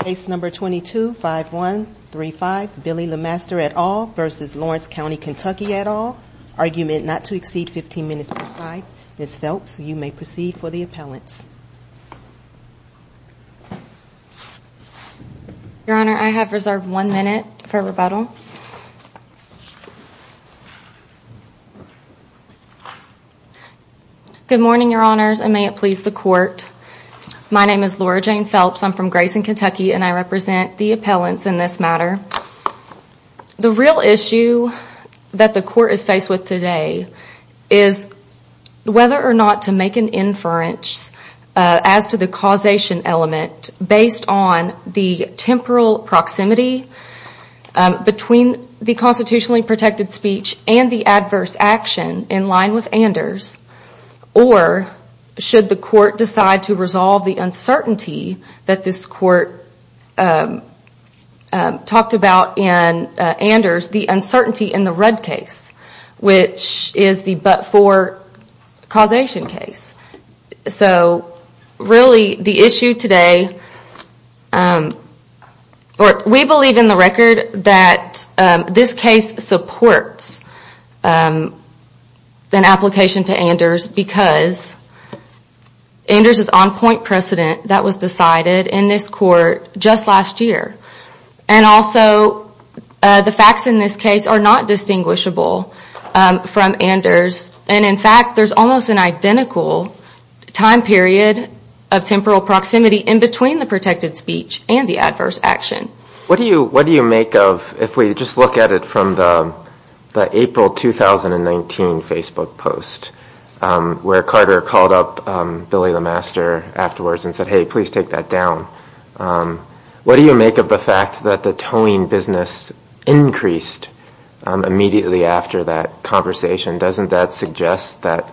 Case number 22-5135, Billy Lemaster et al. v. Lawrence County KY et al., argument not to exceed 15 minutes per side. Ms. Phelps, you may proceed for the appellants. Your Honor, I have reserved one minute for rebuttal. Good morning, Your Honors, and may it please the Court. My name is Laura Jane Phelps. I'm from Grayson, KY, and I represent the appellants in this matter. The real issue that the Court is faced with today is whether or not to make an inference as to the causation element based on the temporal proximity between the constitutionally protected speech and the adverse action in line with Anders, or should the Court decide to resolve the uncertainty that this Court talked about in Anders, the uncertainty in the Rudd case, which is the but-for causation case. We believe in the record that this case supports an application to Anders because Anders is a non-point precedent that was decided in this Court just last year, and also the facts in this case are not distinguishable from Anders, and in fact, there's almost an identical time period of temporal proximity in between the protected speech and the adverse action. What do you make of, if we just look at it from the April 2019 Facebook post, where Carter called up Billy the Master afterwards and said, hey, please take that down, what do you make of the fact that the towing business increased immediately after that conversation? Doesn't that suggest that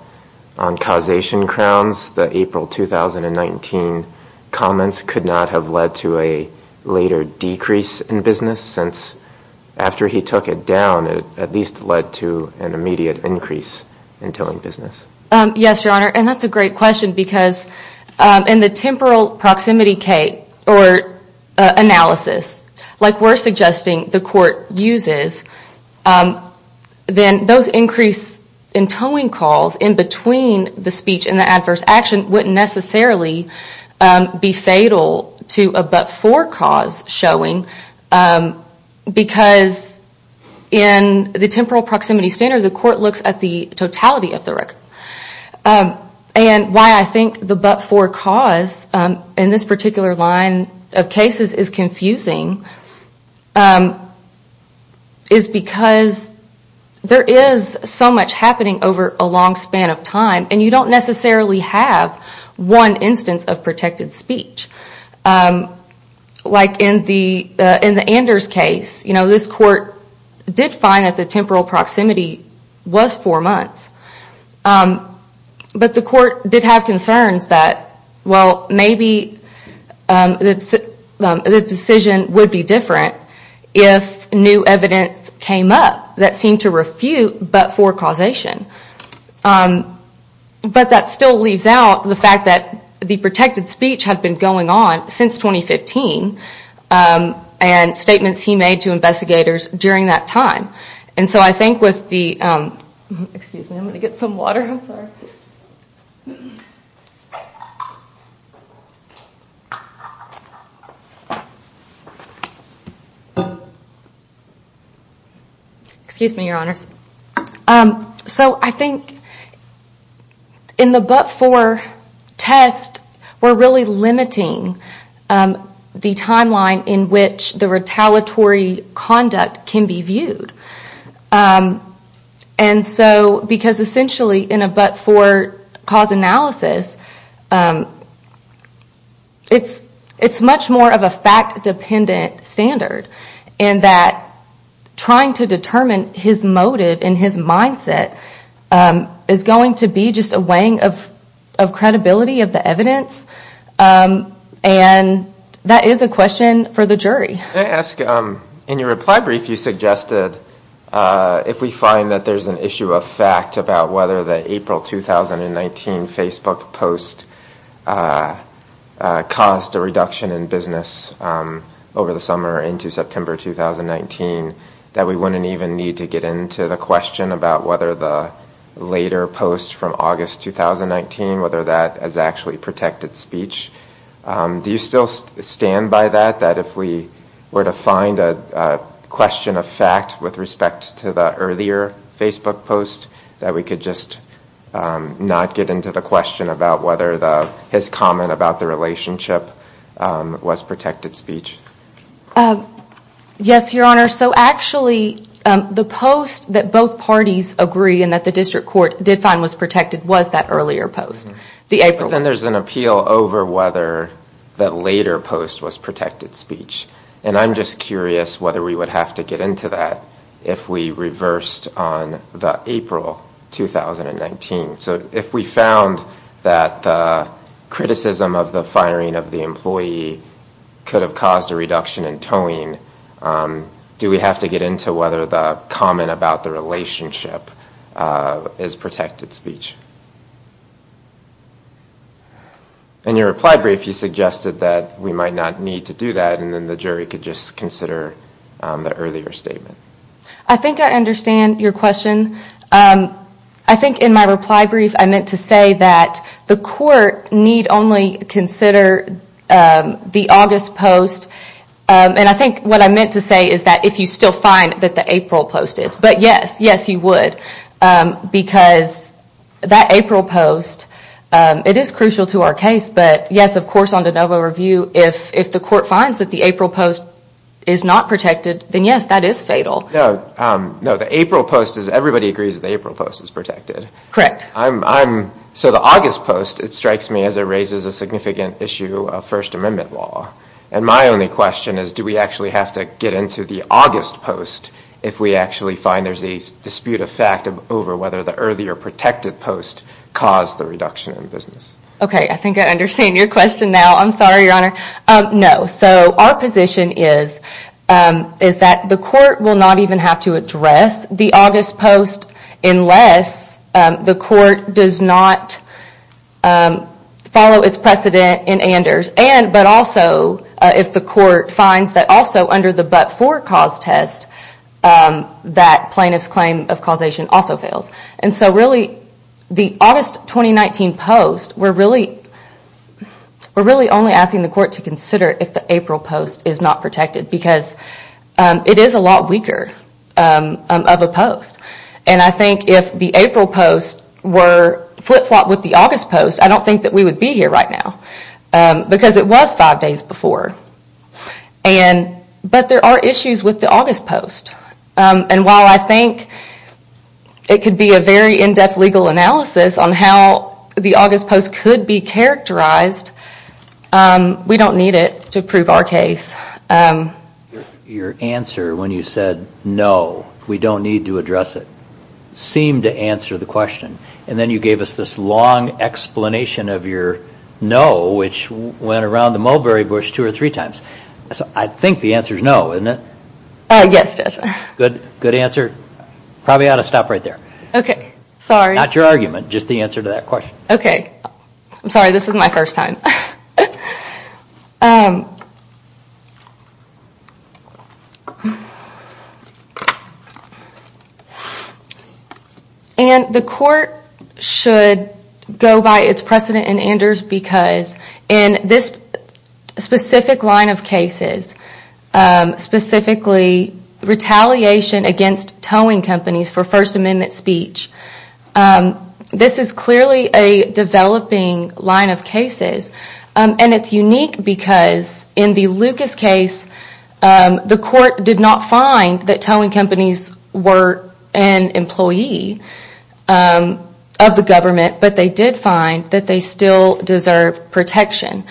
on causation crowns, the April 2019 comments could not have led to a later decrease in business, since after he took it down, it at least led to an immediate increase in towing business? Yes, Your Honor, and that's a great question because in the temporal proximity analysis, like we're suggesting the Court uses, then those increase in towing calls in between the speech and the adverse action wouldn't necessarily be fatal to a but-for cause showing because in the temporal proximity standards, the Court looks at the totality of the record. And why I think the but-for cause in this particular line of cases is confusing is because there is so much happening over a long span of time, and you don't necessarily have one In the Anders case, this Court did find that the temporal proximity was four months, but the Court did have concerns that, well, maybe the decision would be different if new evidence came up that seemed to refute but-for causation. But that still leaves out the fact that the protected speech had been going on since 2015, and statements he made to investigators during that time. And so I think with the, excuse me, I'm going to get some water, I'm sorry. Excuse me, Your Honors. So I think in the but-for test, we're really limiting the timeline in which the retaliatory conduct can be viewed. And so, because essentially in a but-for cause analysis, it's much more of a fact-dependent standard. And that trying to determine his motive and his mindset is going to be just a weighing of credibility of the evidence. And that is a question for the jury. Can I ask, in your reply brief, you suggested if we find that there's an issue of fact about whether the April 2019 Facebook post caused a reduction in business over the summer into September 2019, that we wouldn't even need to get into the question about whether the later post from August 2019, whether that is actually protected speech. Do you still stand by that, that if we were to find a question of fact with respect to the earlier Facebook post, that we could just not get into the question about whether his comment about the relationship was protected speech? Yes, Your Honor. So actually, the post that both parties agree and that the district court did find was protected was that earlier post. Then there's an appeal over whether the later post was protected speech. And I'm just curious whether we would have to get into that if we reversed on the April 2019. So if we found that the criticism of the firing of the employee could have caused a reduction in towing, do we have to get into whether the comment about the relationship is protected speech? In your reply brief, you suggested that we might not need to do that and then the jury could just consider the earlier statement. I think I understand your question. I think in my reply brief, I meant to say that the court need only consider the August post. And I think what I meant to say is that if you still find that the April post is. But yes, yes, you would. Because that April post, it is crucial to our case. But yes, of course, on de novo review, if the court finds that the April post is not protected, then yes, that is fatal. No, the April post, everybody agrees that the April post is protected. Correct. So the August post, it strikes me as it raises a significant issue of First Amendment law. And my only question is, do we actually have to get into the August post if we actually find there is a dispute of fact over whether the earlier protected post caused the reduction in business? Okay, I think I understand your question now. I'm sorry, Your Honor. No. So our position is that the court will not even have to address the August post unless the court does not follow its precedent in Anders. But also if the court finds that also under the but-for cause test, that plaintiff's claim of causation also fails. And so really, the August 2019 post, we're really only asking the court to consider if the April post is not protected. Because it is a lot weaker of a post. And I think if the April post were flip-flopped with the August post, I don't think that we would be here right now. Because it was five days before. But there are issues with the August post. And while I think it could be a very in-depth legal analysis on how the August post could be characterized, we don't need it to prove our case. Your answer when you said, no, we don't need to address it, seemed to answer the question. And then you gave us this long explanation of your no, which went around the mulberry bush two or three times. I think the answer is no, isn't it? Yes, it is. Good answer. Probably ought to stop right there. Okay, sorry. Not your argument, just the answer to that question. Okay. I'm sorry, this is my first time. And the court should go by its precedent in Anders because in this specific line of cases, specifically retaliation against towing companies for First Amendment speech, this is clearly a developing line of cases. And it's unique because in the Lucas case, the court did not find that towing companies were an employee of the government, but they did find that they still deserve protection.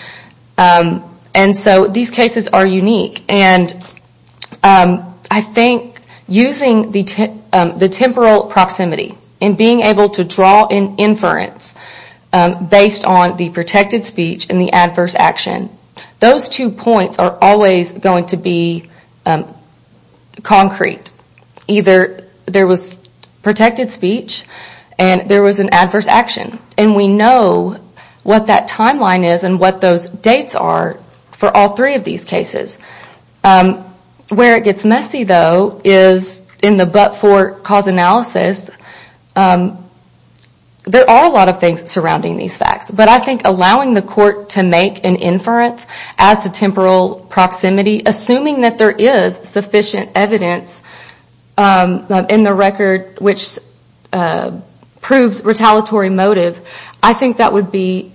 And so these cases are unique. And I think using the temporal proximity and being able to draw an inference based on the protected speech and the adverse action, those two points are always going to be concrete. Either there was protected speech and there was an adverse action. And we know what that timeline is and what those dates are for all three of these cases. Where it gets messy, though, is in the but-for cause analysis, there are a lot of things surrounding these facts. But I think allowing the court to make an inference as to temporal proximity, assuming that there is sufficient evidence in the record which proves retaliatory motive, I think that would be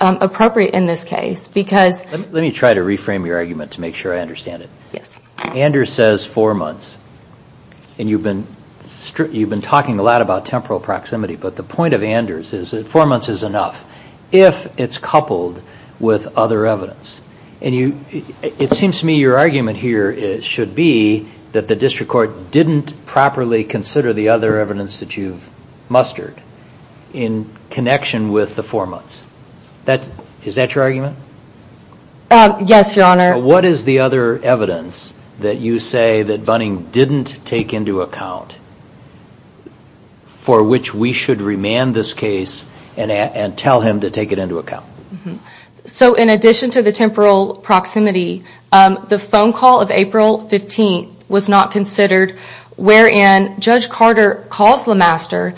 appropriate in this case because... Let me try to reframe your argument to make sure I understand it. Yes. Anders says four months. And you've been talking a lot about temporal proximity. But the point of Anders is that four months is enough if it's coupled with other evidence. It seems to me your argument here should be that the district court didn't properly consider the other evidence that you've mustered in connection with the four months. Is that your argument? Yes, Your Honor. What is the other evidence that you say that Bunning didn't take into account for which we should remand this case and tell him to take it into account? So in addition to the temporal proximity, the phone call of April 15th was not considered, wherein Judge Carter calls Lemaster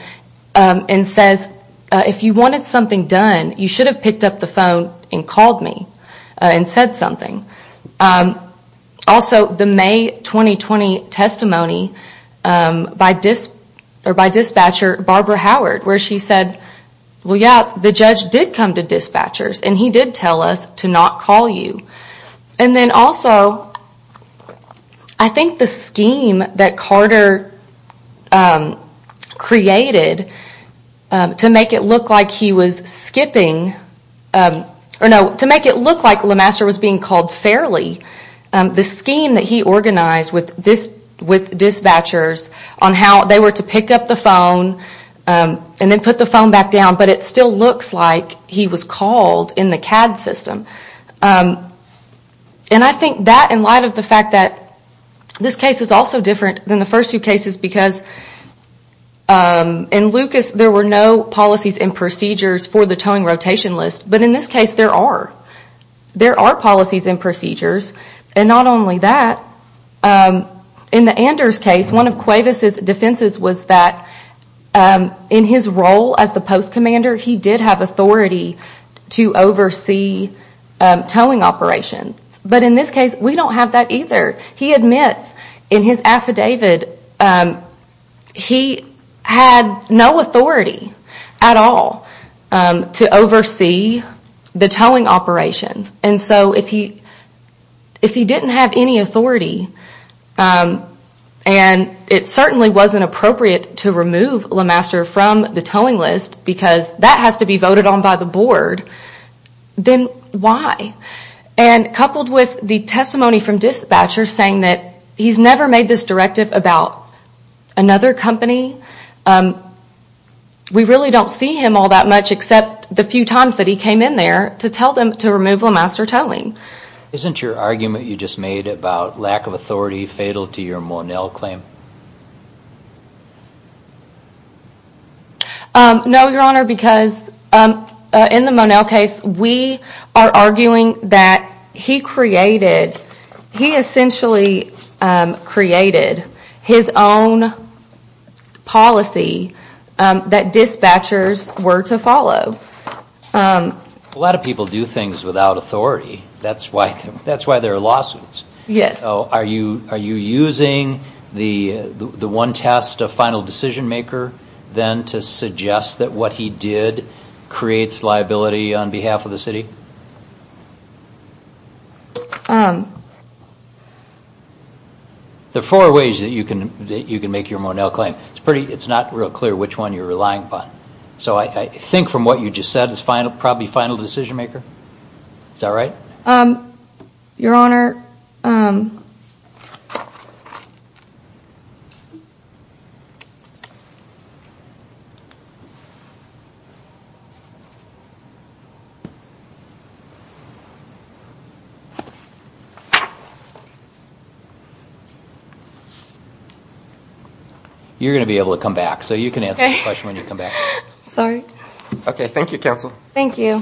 and says, if you wanted something done, you should have picked up the phone and called me and said something. Also, the May 2020 testimony by dispatcher Barbara Howard, where she said, well, yeah, the judge did come to dispatchers and he did tell us to not call you. And then also, I think the scheme that Carter created to make it look like Lemaster was being called fairly, the scheme that he organized with dispatchers on how they were to pick up the phone and then put the phone back down, but it still looks like he was called in the CAD system. And I think that in light of the fact that this case is also different than the first two cases because in Lucas there were no policies and procedures for the towing rotation list, but in this case there are. There are policies and procedures, and not only that, in the Anders case, one of Cuevas' defenses was that in his role as the post commander, he did have authority to oversee towing operations. But in this case, we don't have that either. He admits in his affidavit, he had no authority at all to oversee the towing operations. And so if he didn't have any authority, and it certainly wasn't appropriate to remove Lemaster from the towing list because that has to be voted on by the board, then why? And coupled with the testimony from dispatchers saying that he's never made this directive about another company, we really don't see him all that much except the few times that he came in there to tell them to remove Lemaster towing. Isn't your argument you just made about lack of authority fatal to your Monell claim? No, Your Honor, because in the Monell case, we are arguing that he created, he essentially created his own policy that dispatchers were to follow. A lot of people do things without authority, that's why there are lawsuits. Yes. Are you using the one test of final decision maker then to suggest that what he did creates liability on behalf of the city? There are four ways that you can make your Monell claim. It's not real clear which one you're relying upon. So I think from what you just said, it's probably final decision maker. Is that right? Your Honor. You're going to be able to come back, so you can answer the question when you come back. Sorry. Okay, thank you, counsel. Thank you.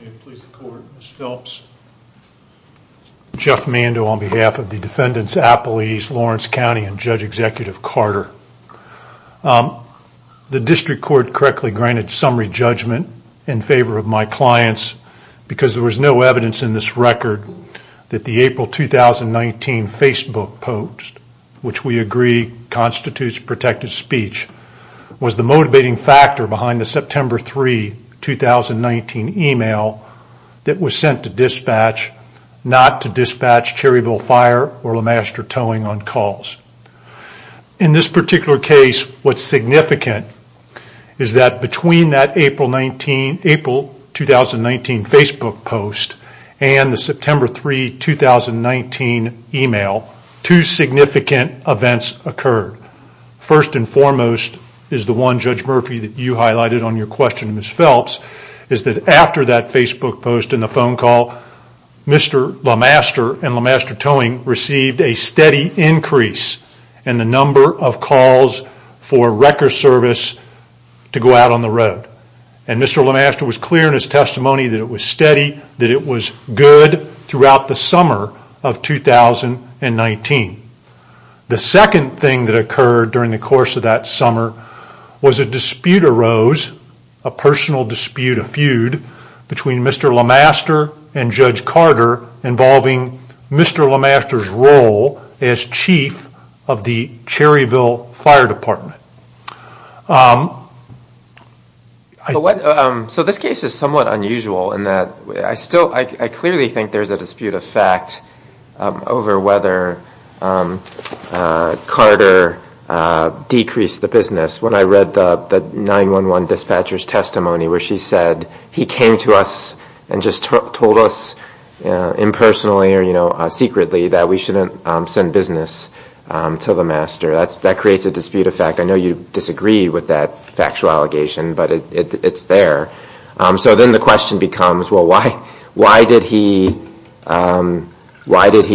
May it please the Court, Ms. Phelps. Jeff Mando on behalf of the defendant's appellees, Lawrence County, and Judge Executive Carter. The district court correctly granted summary judgment in favor of my clients, because there was no evidence in this record that the April 2019 Facebook post, which we agree constitutes protective speech, was the motivating factor behind the September 3, 2019 email that was sent to dispatch, not to dispatch Cherryville Fire or LeMaster Towing on calls. In this particular case, what's significant is that between that April 2019 Facebook post and the September 3, 2019 email, two significant events occurred. First and foremost is the one, Judge Murphy, that you highlighted on your question, Ms. Phelps, is that after that Facebook post and the phone call, Mr. LeMaster and LeMaster Towing received a steady increase in the number of calls for wrecker service to go out on the road. And Mr. LeMaster was clear in his testimony that it was steady, that it was good throughout the summer of 2019. The second thing that occurred during the course of that summer was a dispute arose, a personal dispute, a feud between Mr. LeMaster and Judge Carter involving Mr. LeMaster's role as chief of the Cherryville Fire Department. So this case is somewhat unusual in that I clearly think there's a dispute of fact over whether Carter decreased the business. When I read the 911 dispatcher's testimony where she said, he came to us and just told us impersonally or secretly that we shouldn't send business to LeMaster. That creates a dispute of fact. I know you disagreed with that factual allegation, but it's there. So then the question becomes, well, why did he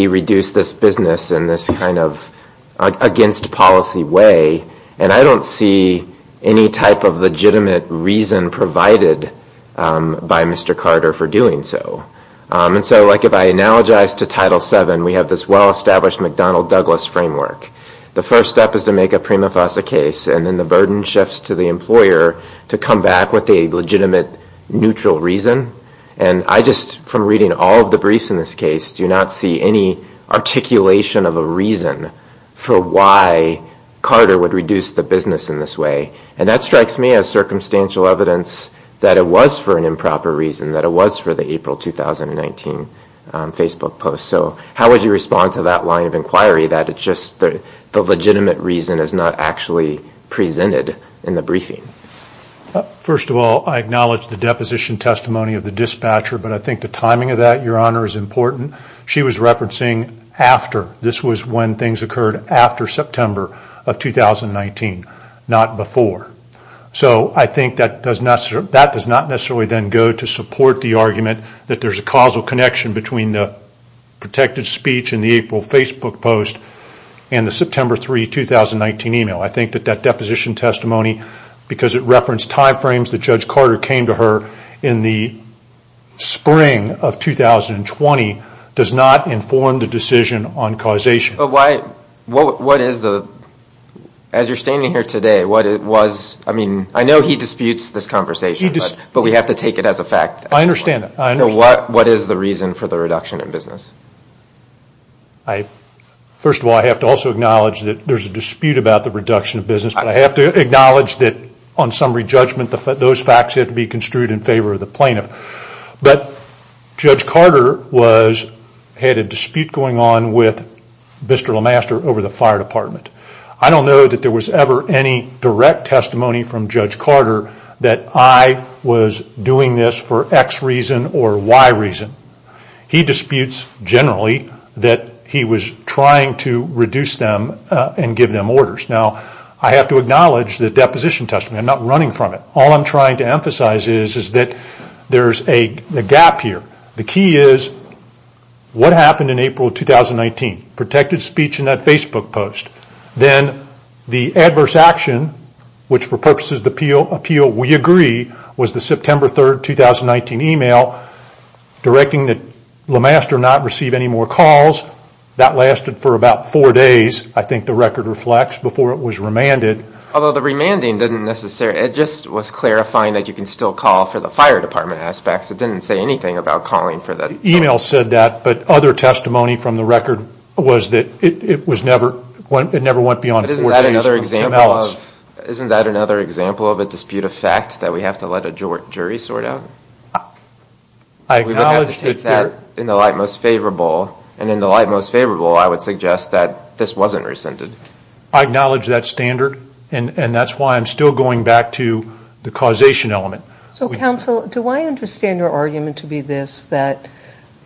reduce this business in this kind of against policy way? And I don't see any type of legitimate reason provided by Mr. Carter for doing so. And so like if I analogize to Title VII, we have this well-established McDonnell-Douglas framework. The first step is to make a prima facie case, and then the burden shifts to the employer to come back with a legitimate neutral reason. And I just, from reading all of the briefs in this case, do not see any articulation of a reason for why Carter would reduce the business in this way. And that strikes me as circumstantial evidence that it was for an improper reason, that it was for the April 2019 Facebook post. So how would you respond to that line of inquiry, that it's just the legitimate reason is not actually presented in the briefing? First of all, I acknowledge the deposition testimony of the dispatcher, but I think the timing of that, Your Honor, is important. She was referencing after. This was when things occurred, after September of 2019, not before. So I think that does not necessarily then go to support the argument that there's a causal connection between the protected speech and the April Facebook post and the September 3, 2019 email. I think that that deposition testimony, because it referenced timeframes that Judge Carter came to her in the spring of 2020, does not inform the decision on causation. But what is the, as you're standing here today, what it was, I mean, I know he disputes this conversation, but we have to take it as a fact. I understand that. So what is the reason for the reduction in business? First of all, I have to also acknowledge that there's a dispute about the reduction of business, but I have to acknowledge that on summary judgment, those facts have to be construed in favor of the plaintiff. But Judge Carter had a dispute going on with Mr. LeMaster over the fire department. I don't know that there was ever any direct testimony from Judge Carter that I was doing this for X reason or Y reason. He disputes generally that he was trying to reduce them and give them orders. Now, I have to acknowledge the deposition testimony. I'm not running from it. All I'm trying to emphasize is that there's a gap here. The key is, what happened in April 2019? Protected speech in that Facebook post. Then the adverse action, which for purposes of appeal, we agree, was the September 3, 2019 email directing that LeMaster not receive any more calls. That lasted for about four days. I think the record reflects before it was remanded. Although the remanding didn't necessarily, it just was clarifying that you can still call for the fire department aspects. It didn't say anything about calling for that. The email said that, but other testimony from the record was that it never went beyond four days. Isn't that another example of a dispute of fact that we have to let a jury sort out? We would have to take that in the light most favorable. In the light most favorable, I would suggest that this wasn't rescinded. I acknowledge that standard. That's why I'm still going back to the causation element. Counsel, do I understand your argument to be this, that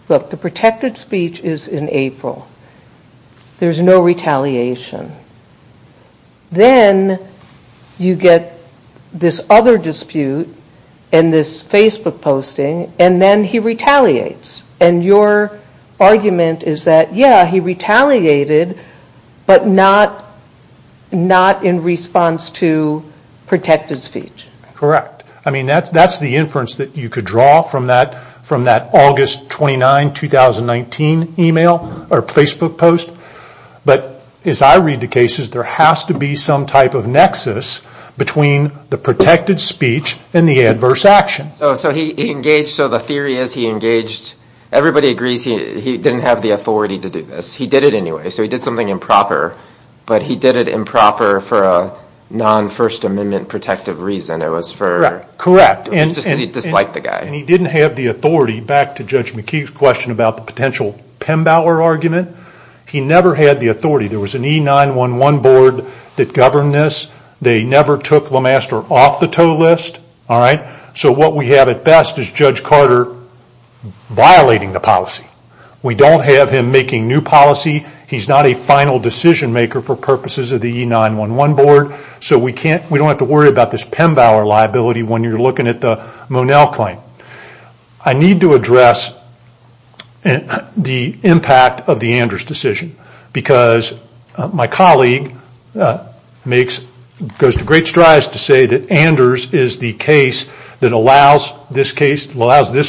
the protected speech is in April. There's no retaliation. Then you get this other dispute and this Facebook posting, and then he retaliates. Your argument is that, yeah, he retaliated, but not in response to protected speech. Correct. That's the inference that you could draw from that August 29, 2019 email or Facebook post. As I read the cases, there has to be some type of nexus between the protected speech and the adverse action. The theory is he engaged. Everybody agrees he didn't have the authority to do this. He did it anyway. He did something improper, but he did it improper for a non-First Amendment protective reason. It was because he disliked the guy. He didn't have the authority. Back to Judge McKee's question about the potential Pembauer argument. He never had the authority. There was an E911 board that governed this. They never took LeMaster off the TOE list. What we have at best is Judge Carter violating the policy. We don't have him making new policy. He's not a final decision maker for purposes of the E911 board. We don't have to worry about this Pembauer liability when you're looking at the Monell claim. I need to address the impact of the Anders decision. My colleague goes to great strides to say that Anders is the case that allows this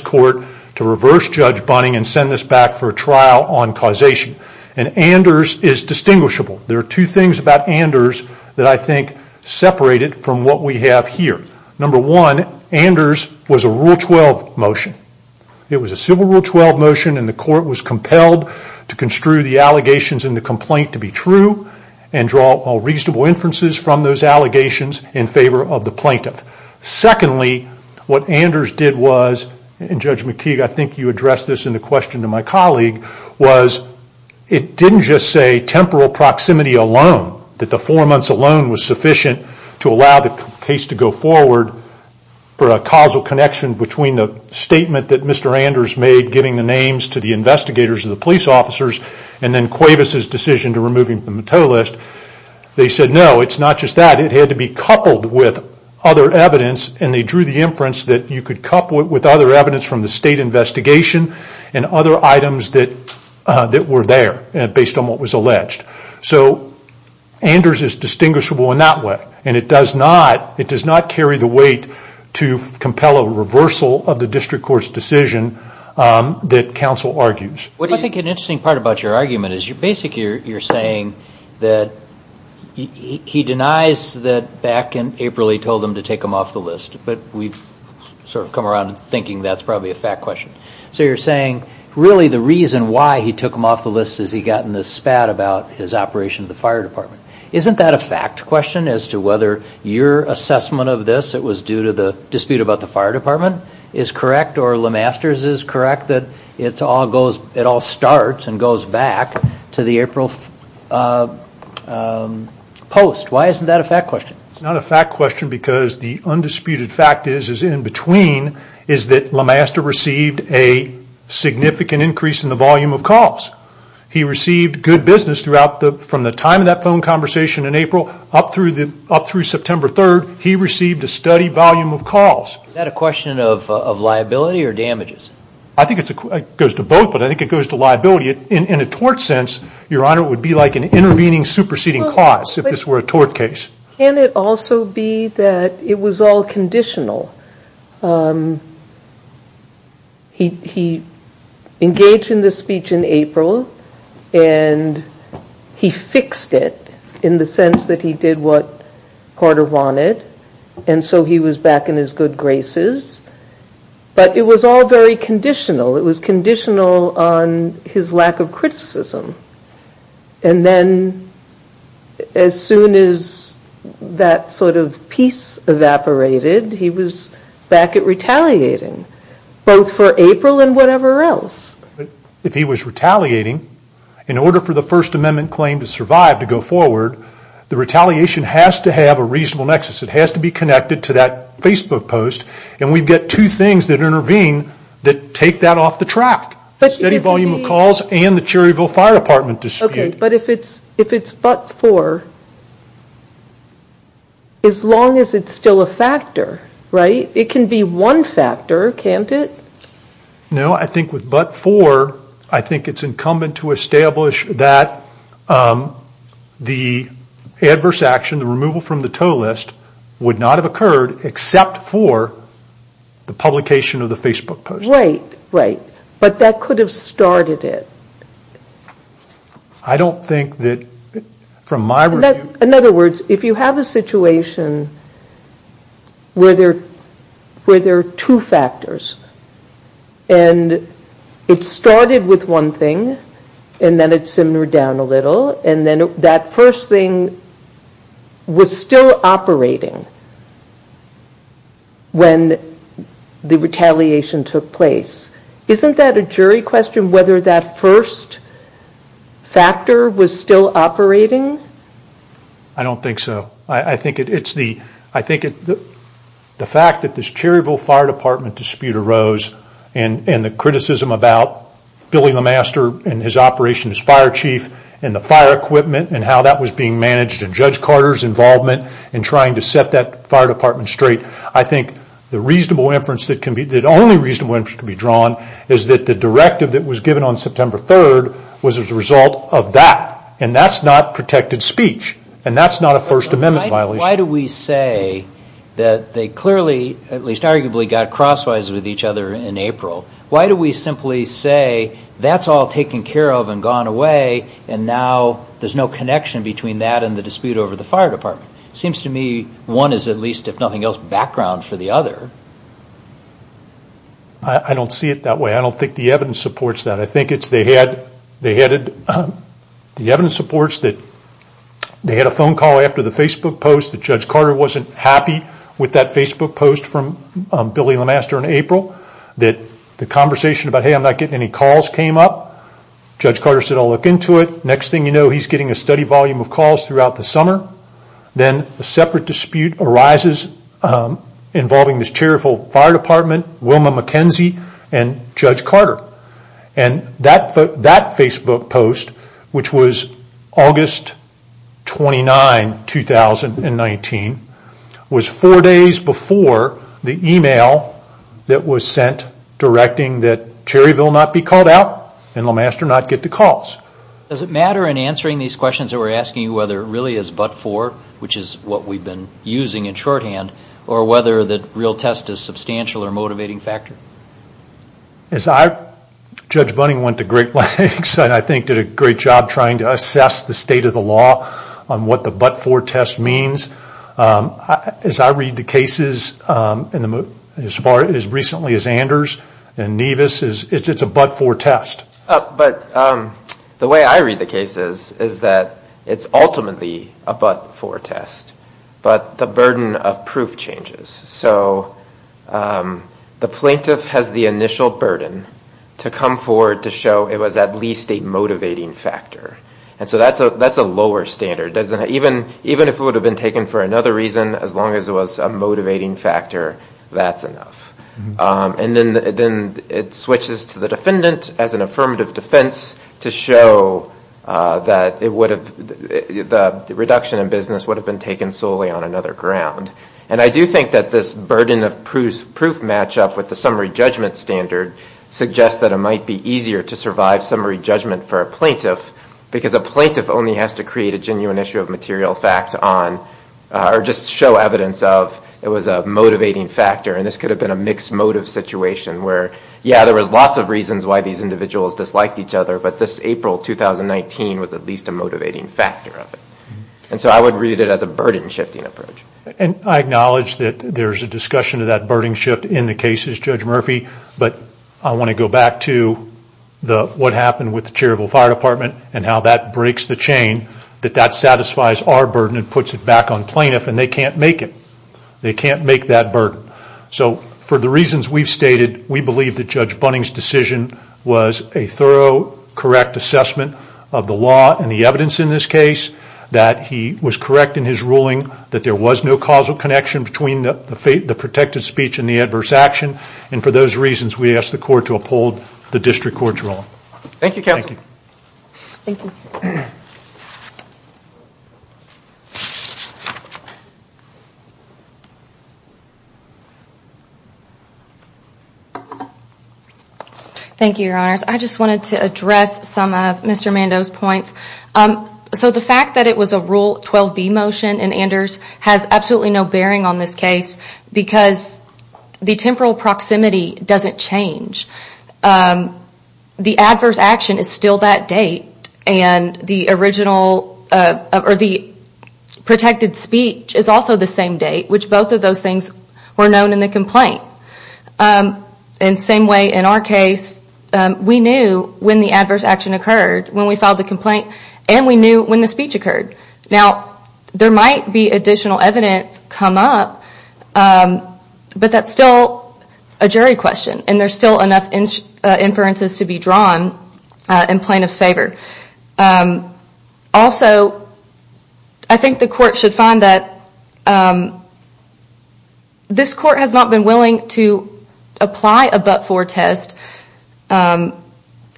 court to reverse Judge Bunning and send this back for a trial on causation. Anders is distinguishable. There are two things about Anders that I think separate it from what we have here. Number one, Anders was a Rule 12 motion. It was a Civil Rule 12 motion and the court was compelled to construe the allegations in the complaint to be true and draw all reasonable inferences from those allegations in favor of the plaintiff. Secondly, what Anders did was, and Judge McKee I think you addressed this in the question to my colleague, was it didn't just say temporal proximity alone, that the four months alone was sufficient to allow the case to go forward for a causal connection between the statement that Mr. Anders made giving the names to the investigators and the police officers and then Cuevas' decision to remove him from the TOE list. They said no, it's not just that. It had to be coupled with other evidence and they drew the inference that you could couple it with other evidence from the state investigation and other items that were there based on what was alleged. So Anders is distinguishable in that way and it does not carry the weight to compel a reversal of the district court's decision that counsel argues. I think an interesting part about your argument is basically you're saying that he denies that back in April he told them to take him off the list. But we've sort of come around to thinking that's probably a fact question. So you're saying really the reason why he took him off the list is he got in this spat about his operation of the fire department. Isn't that a fact question as to whether your assessment of this, it was due to the dispute about the fire department, is correct or LeMasters is correct that it all starts and goes back to the April post? Why isn't that a fact question? It's not a fact question because the undisputed fact is in between is that LeMaster received a significant increase in the volume of calls. He received good business from the time of that phone conversation in April up through September 3rd. He received a steady volume of calls. Is that a question of liability or damages? I think it goes to both but I think it goes to liability. In a tort sense, your honor, it would be like an intervening superseding cause if this were a tort case. Can it also be that it was all conditional? He engaged in this speech in April and he fixed it in the sense that he did what Carter wanted and so he was back in his good graces. But it was all very conditional. It was conditional on his lack of criticism. And then as soon as that sort of peace evaporated, he was back at retaliating both for April and whatever else. If he was retaliating, in order for the First Amendment claim to survive to go forward, the retaliation has to have a reasonable nexus. It has to be connected to that Facebook post and we've got two things that intervene that take that off the track. The steady volume of calls and the Cherryville Fire Department dispute. But if it's but for, as long as it's still a factor, right? It can be one factor, can't it? No, I think with but for, I think it's incumbent to establish that the adverse action, the removal from the toll list, would not have occurred except for the publication of the Facebook post. Right, right. But that could have started it. I don't think that, from my review... In other words, if you have a situation where there are two factors and it started with one thing and then it simmered down a little and then that first thing was still operating when the retaliation took place, isn't that a jury question whether that first factor was still operating? I don't think so. I think it's the fact that this Cherryville Fire Department dispute arose and the criticism about Billy LeMaster and his operation as fire chief and the fire equipment and how that was being managed and Judge Carter's involvement in trying to set that fire department straight. I think the only reasonable inference that can be drawn is that the directive that was given on September 3rd was as a result of that and that's not protected speech and that's not a First Amendment violation. Why do we say that they clearly, at least arguably, got crosswise with each other in April? Why do we simply say that's all taken care of and gone away and now there's no connection between that and the dispute over the fire department? It seems to me one is at least, if nothing else, background for the other. I don't see it that way. I don't think the evidence supports that. I think the evidence supports that they had a phone call after the Facebook post that Judge Carter wasn't happy with that Facebook post from Billy LeMaster in April. The conversation about, hey, I'm not getting any calls came up. Judge Carter said, I'll look into it. Next thing you know, he's getting a steady volume of calls throughout the summer. Then a separate dispute arises involving this Cherryville Fire Department, Wilma McKenzie, and Judge Carter. That Facebook post, which was August 29, 2019, was four days before the email that was sent directing that Cherryville not be called out and LeMaster not get the calls. Does it matter in answering these questions that we're asking whether it really is but for, which is what we've been using in shorthand, or whether the real test is a substantial or motivating factor? Judge Bunning went to great lengths and I think did a great job trying to assess the state of the law on what the but-for test means. As I read the cases as recently as Anders and Nevis, it's a but-for test. The way I read the cases is that it's ultimately a but-for test, but the burden of proof changes. The plaintiff has the initial burden to come forward to show it was at least a motivating factor. That's a lower standard. Even if it would have been taken for another reason, as long as it was a motivating factor, that's enough. Then it switches to the defendant as an affirmative defense to show that the reduction in business would have been taken solely on another ground. I do think that this burden of proof matchup with the summary judgment standard suggests that it might be easier to survive summary judgment for a plaintiff, because a plaintiff only has to create a genuine issue of material fact on, or just show evidence of it was a motivating factor. This could have been a mixed motive situation where, yeah, there was lots of reasons why these individuals disliked each other, but this April 2019 was at least a motivating factor of it. I would read it as a burden-shifting approach. I acknowledge that there's a discussion of that burden shift in the cases, Judge Murphy, but I want to go back to what happened with the Cherryville Fire Department and how that breaks the chain, that that satisfies our burden and puts it back on plaintiff, and they can't make it. They can't make that burden. For the reasons we've stated, we believe that Judge Bunning's decision was a thorough, correct assessment of the law and the evidence in this case, that he was correct in his ruling, that there was no causal connection between the protected speech and the adverse action, and for those reasons, we ask the court to uphold the district court's ruling. Thank you, Counselor. Thank you. Thank you, Your Honors. I just wanted to address some of Mr. Mando's points. So the fact that it was a Rule 12b motion in Anders has absolutely no bearing on this case because the temporal proximity doesn't change. The adverse action is still that date, and the protected speech is also the same date, which both of those things were known in the complaint. And same way in our case, we knew when the adverse action occurred, when we filed the complaint, and we knew when the speech occurred. Now, there might be additional evidence come up, but that's still a jury question, and there's still enough inferences to be drawn in plaintiff's favor. Also, I think the court should find that this court has not been willing to apply a but-for test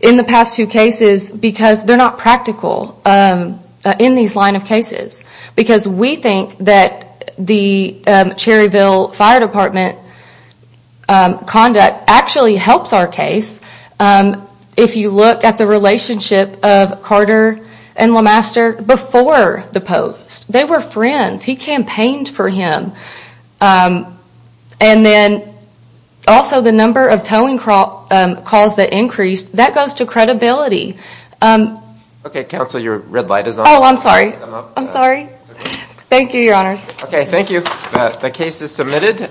in the past two cases because they're not practical in these line of cases because we think that the Cherryville Fire Department conduct actually helps our case if you look at the relationship of Carter and LeMaster before the post. They were friends. He campaigned for him. And then also the number of towing calls that increased, that goes to credibility. Okay, Counsel, your red light is on. Oh, I'm sorry. I'm sorry. Thank you, Your Honors. Okay, thank you. The case is submitted.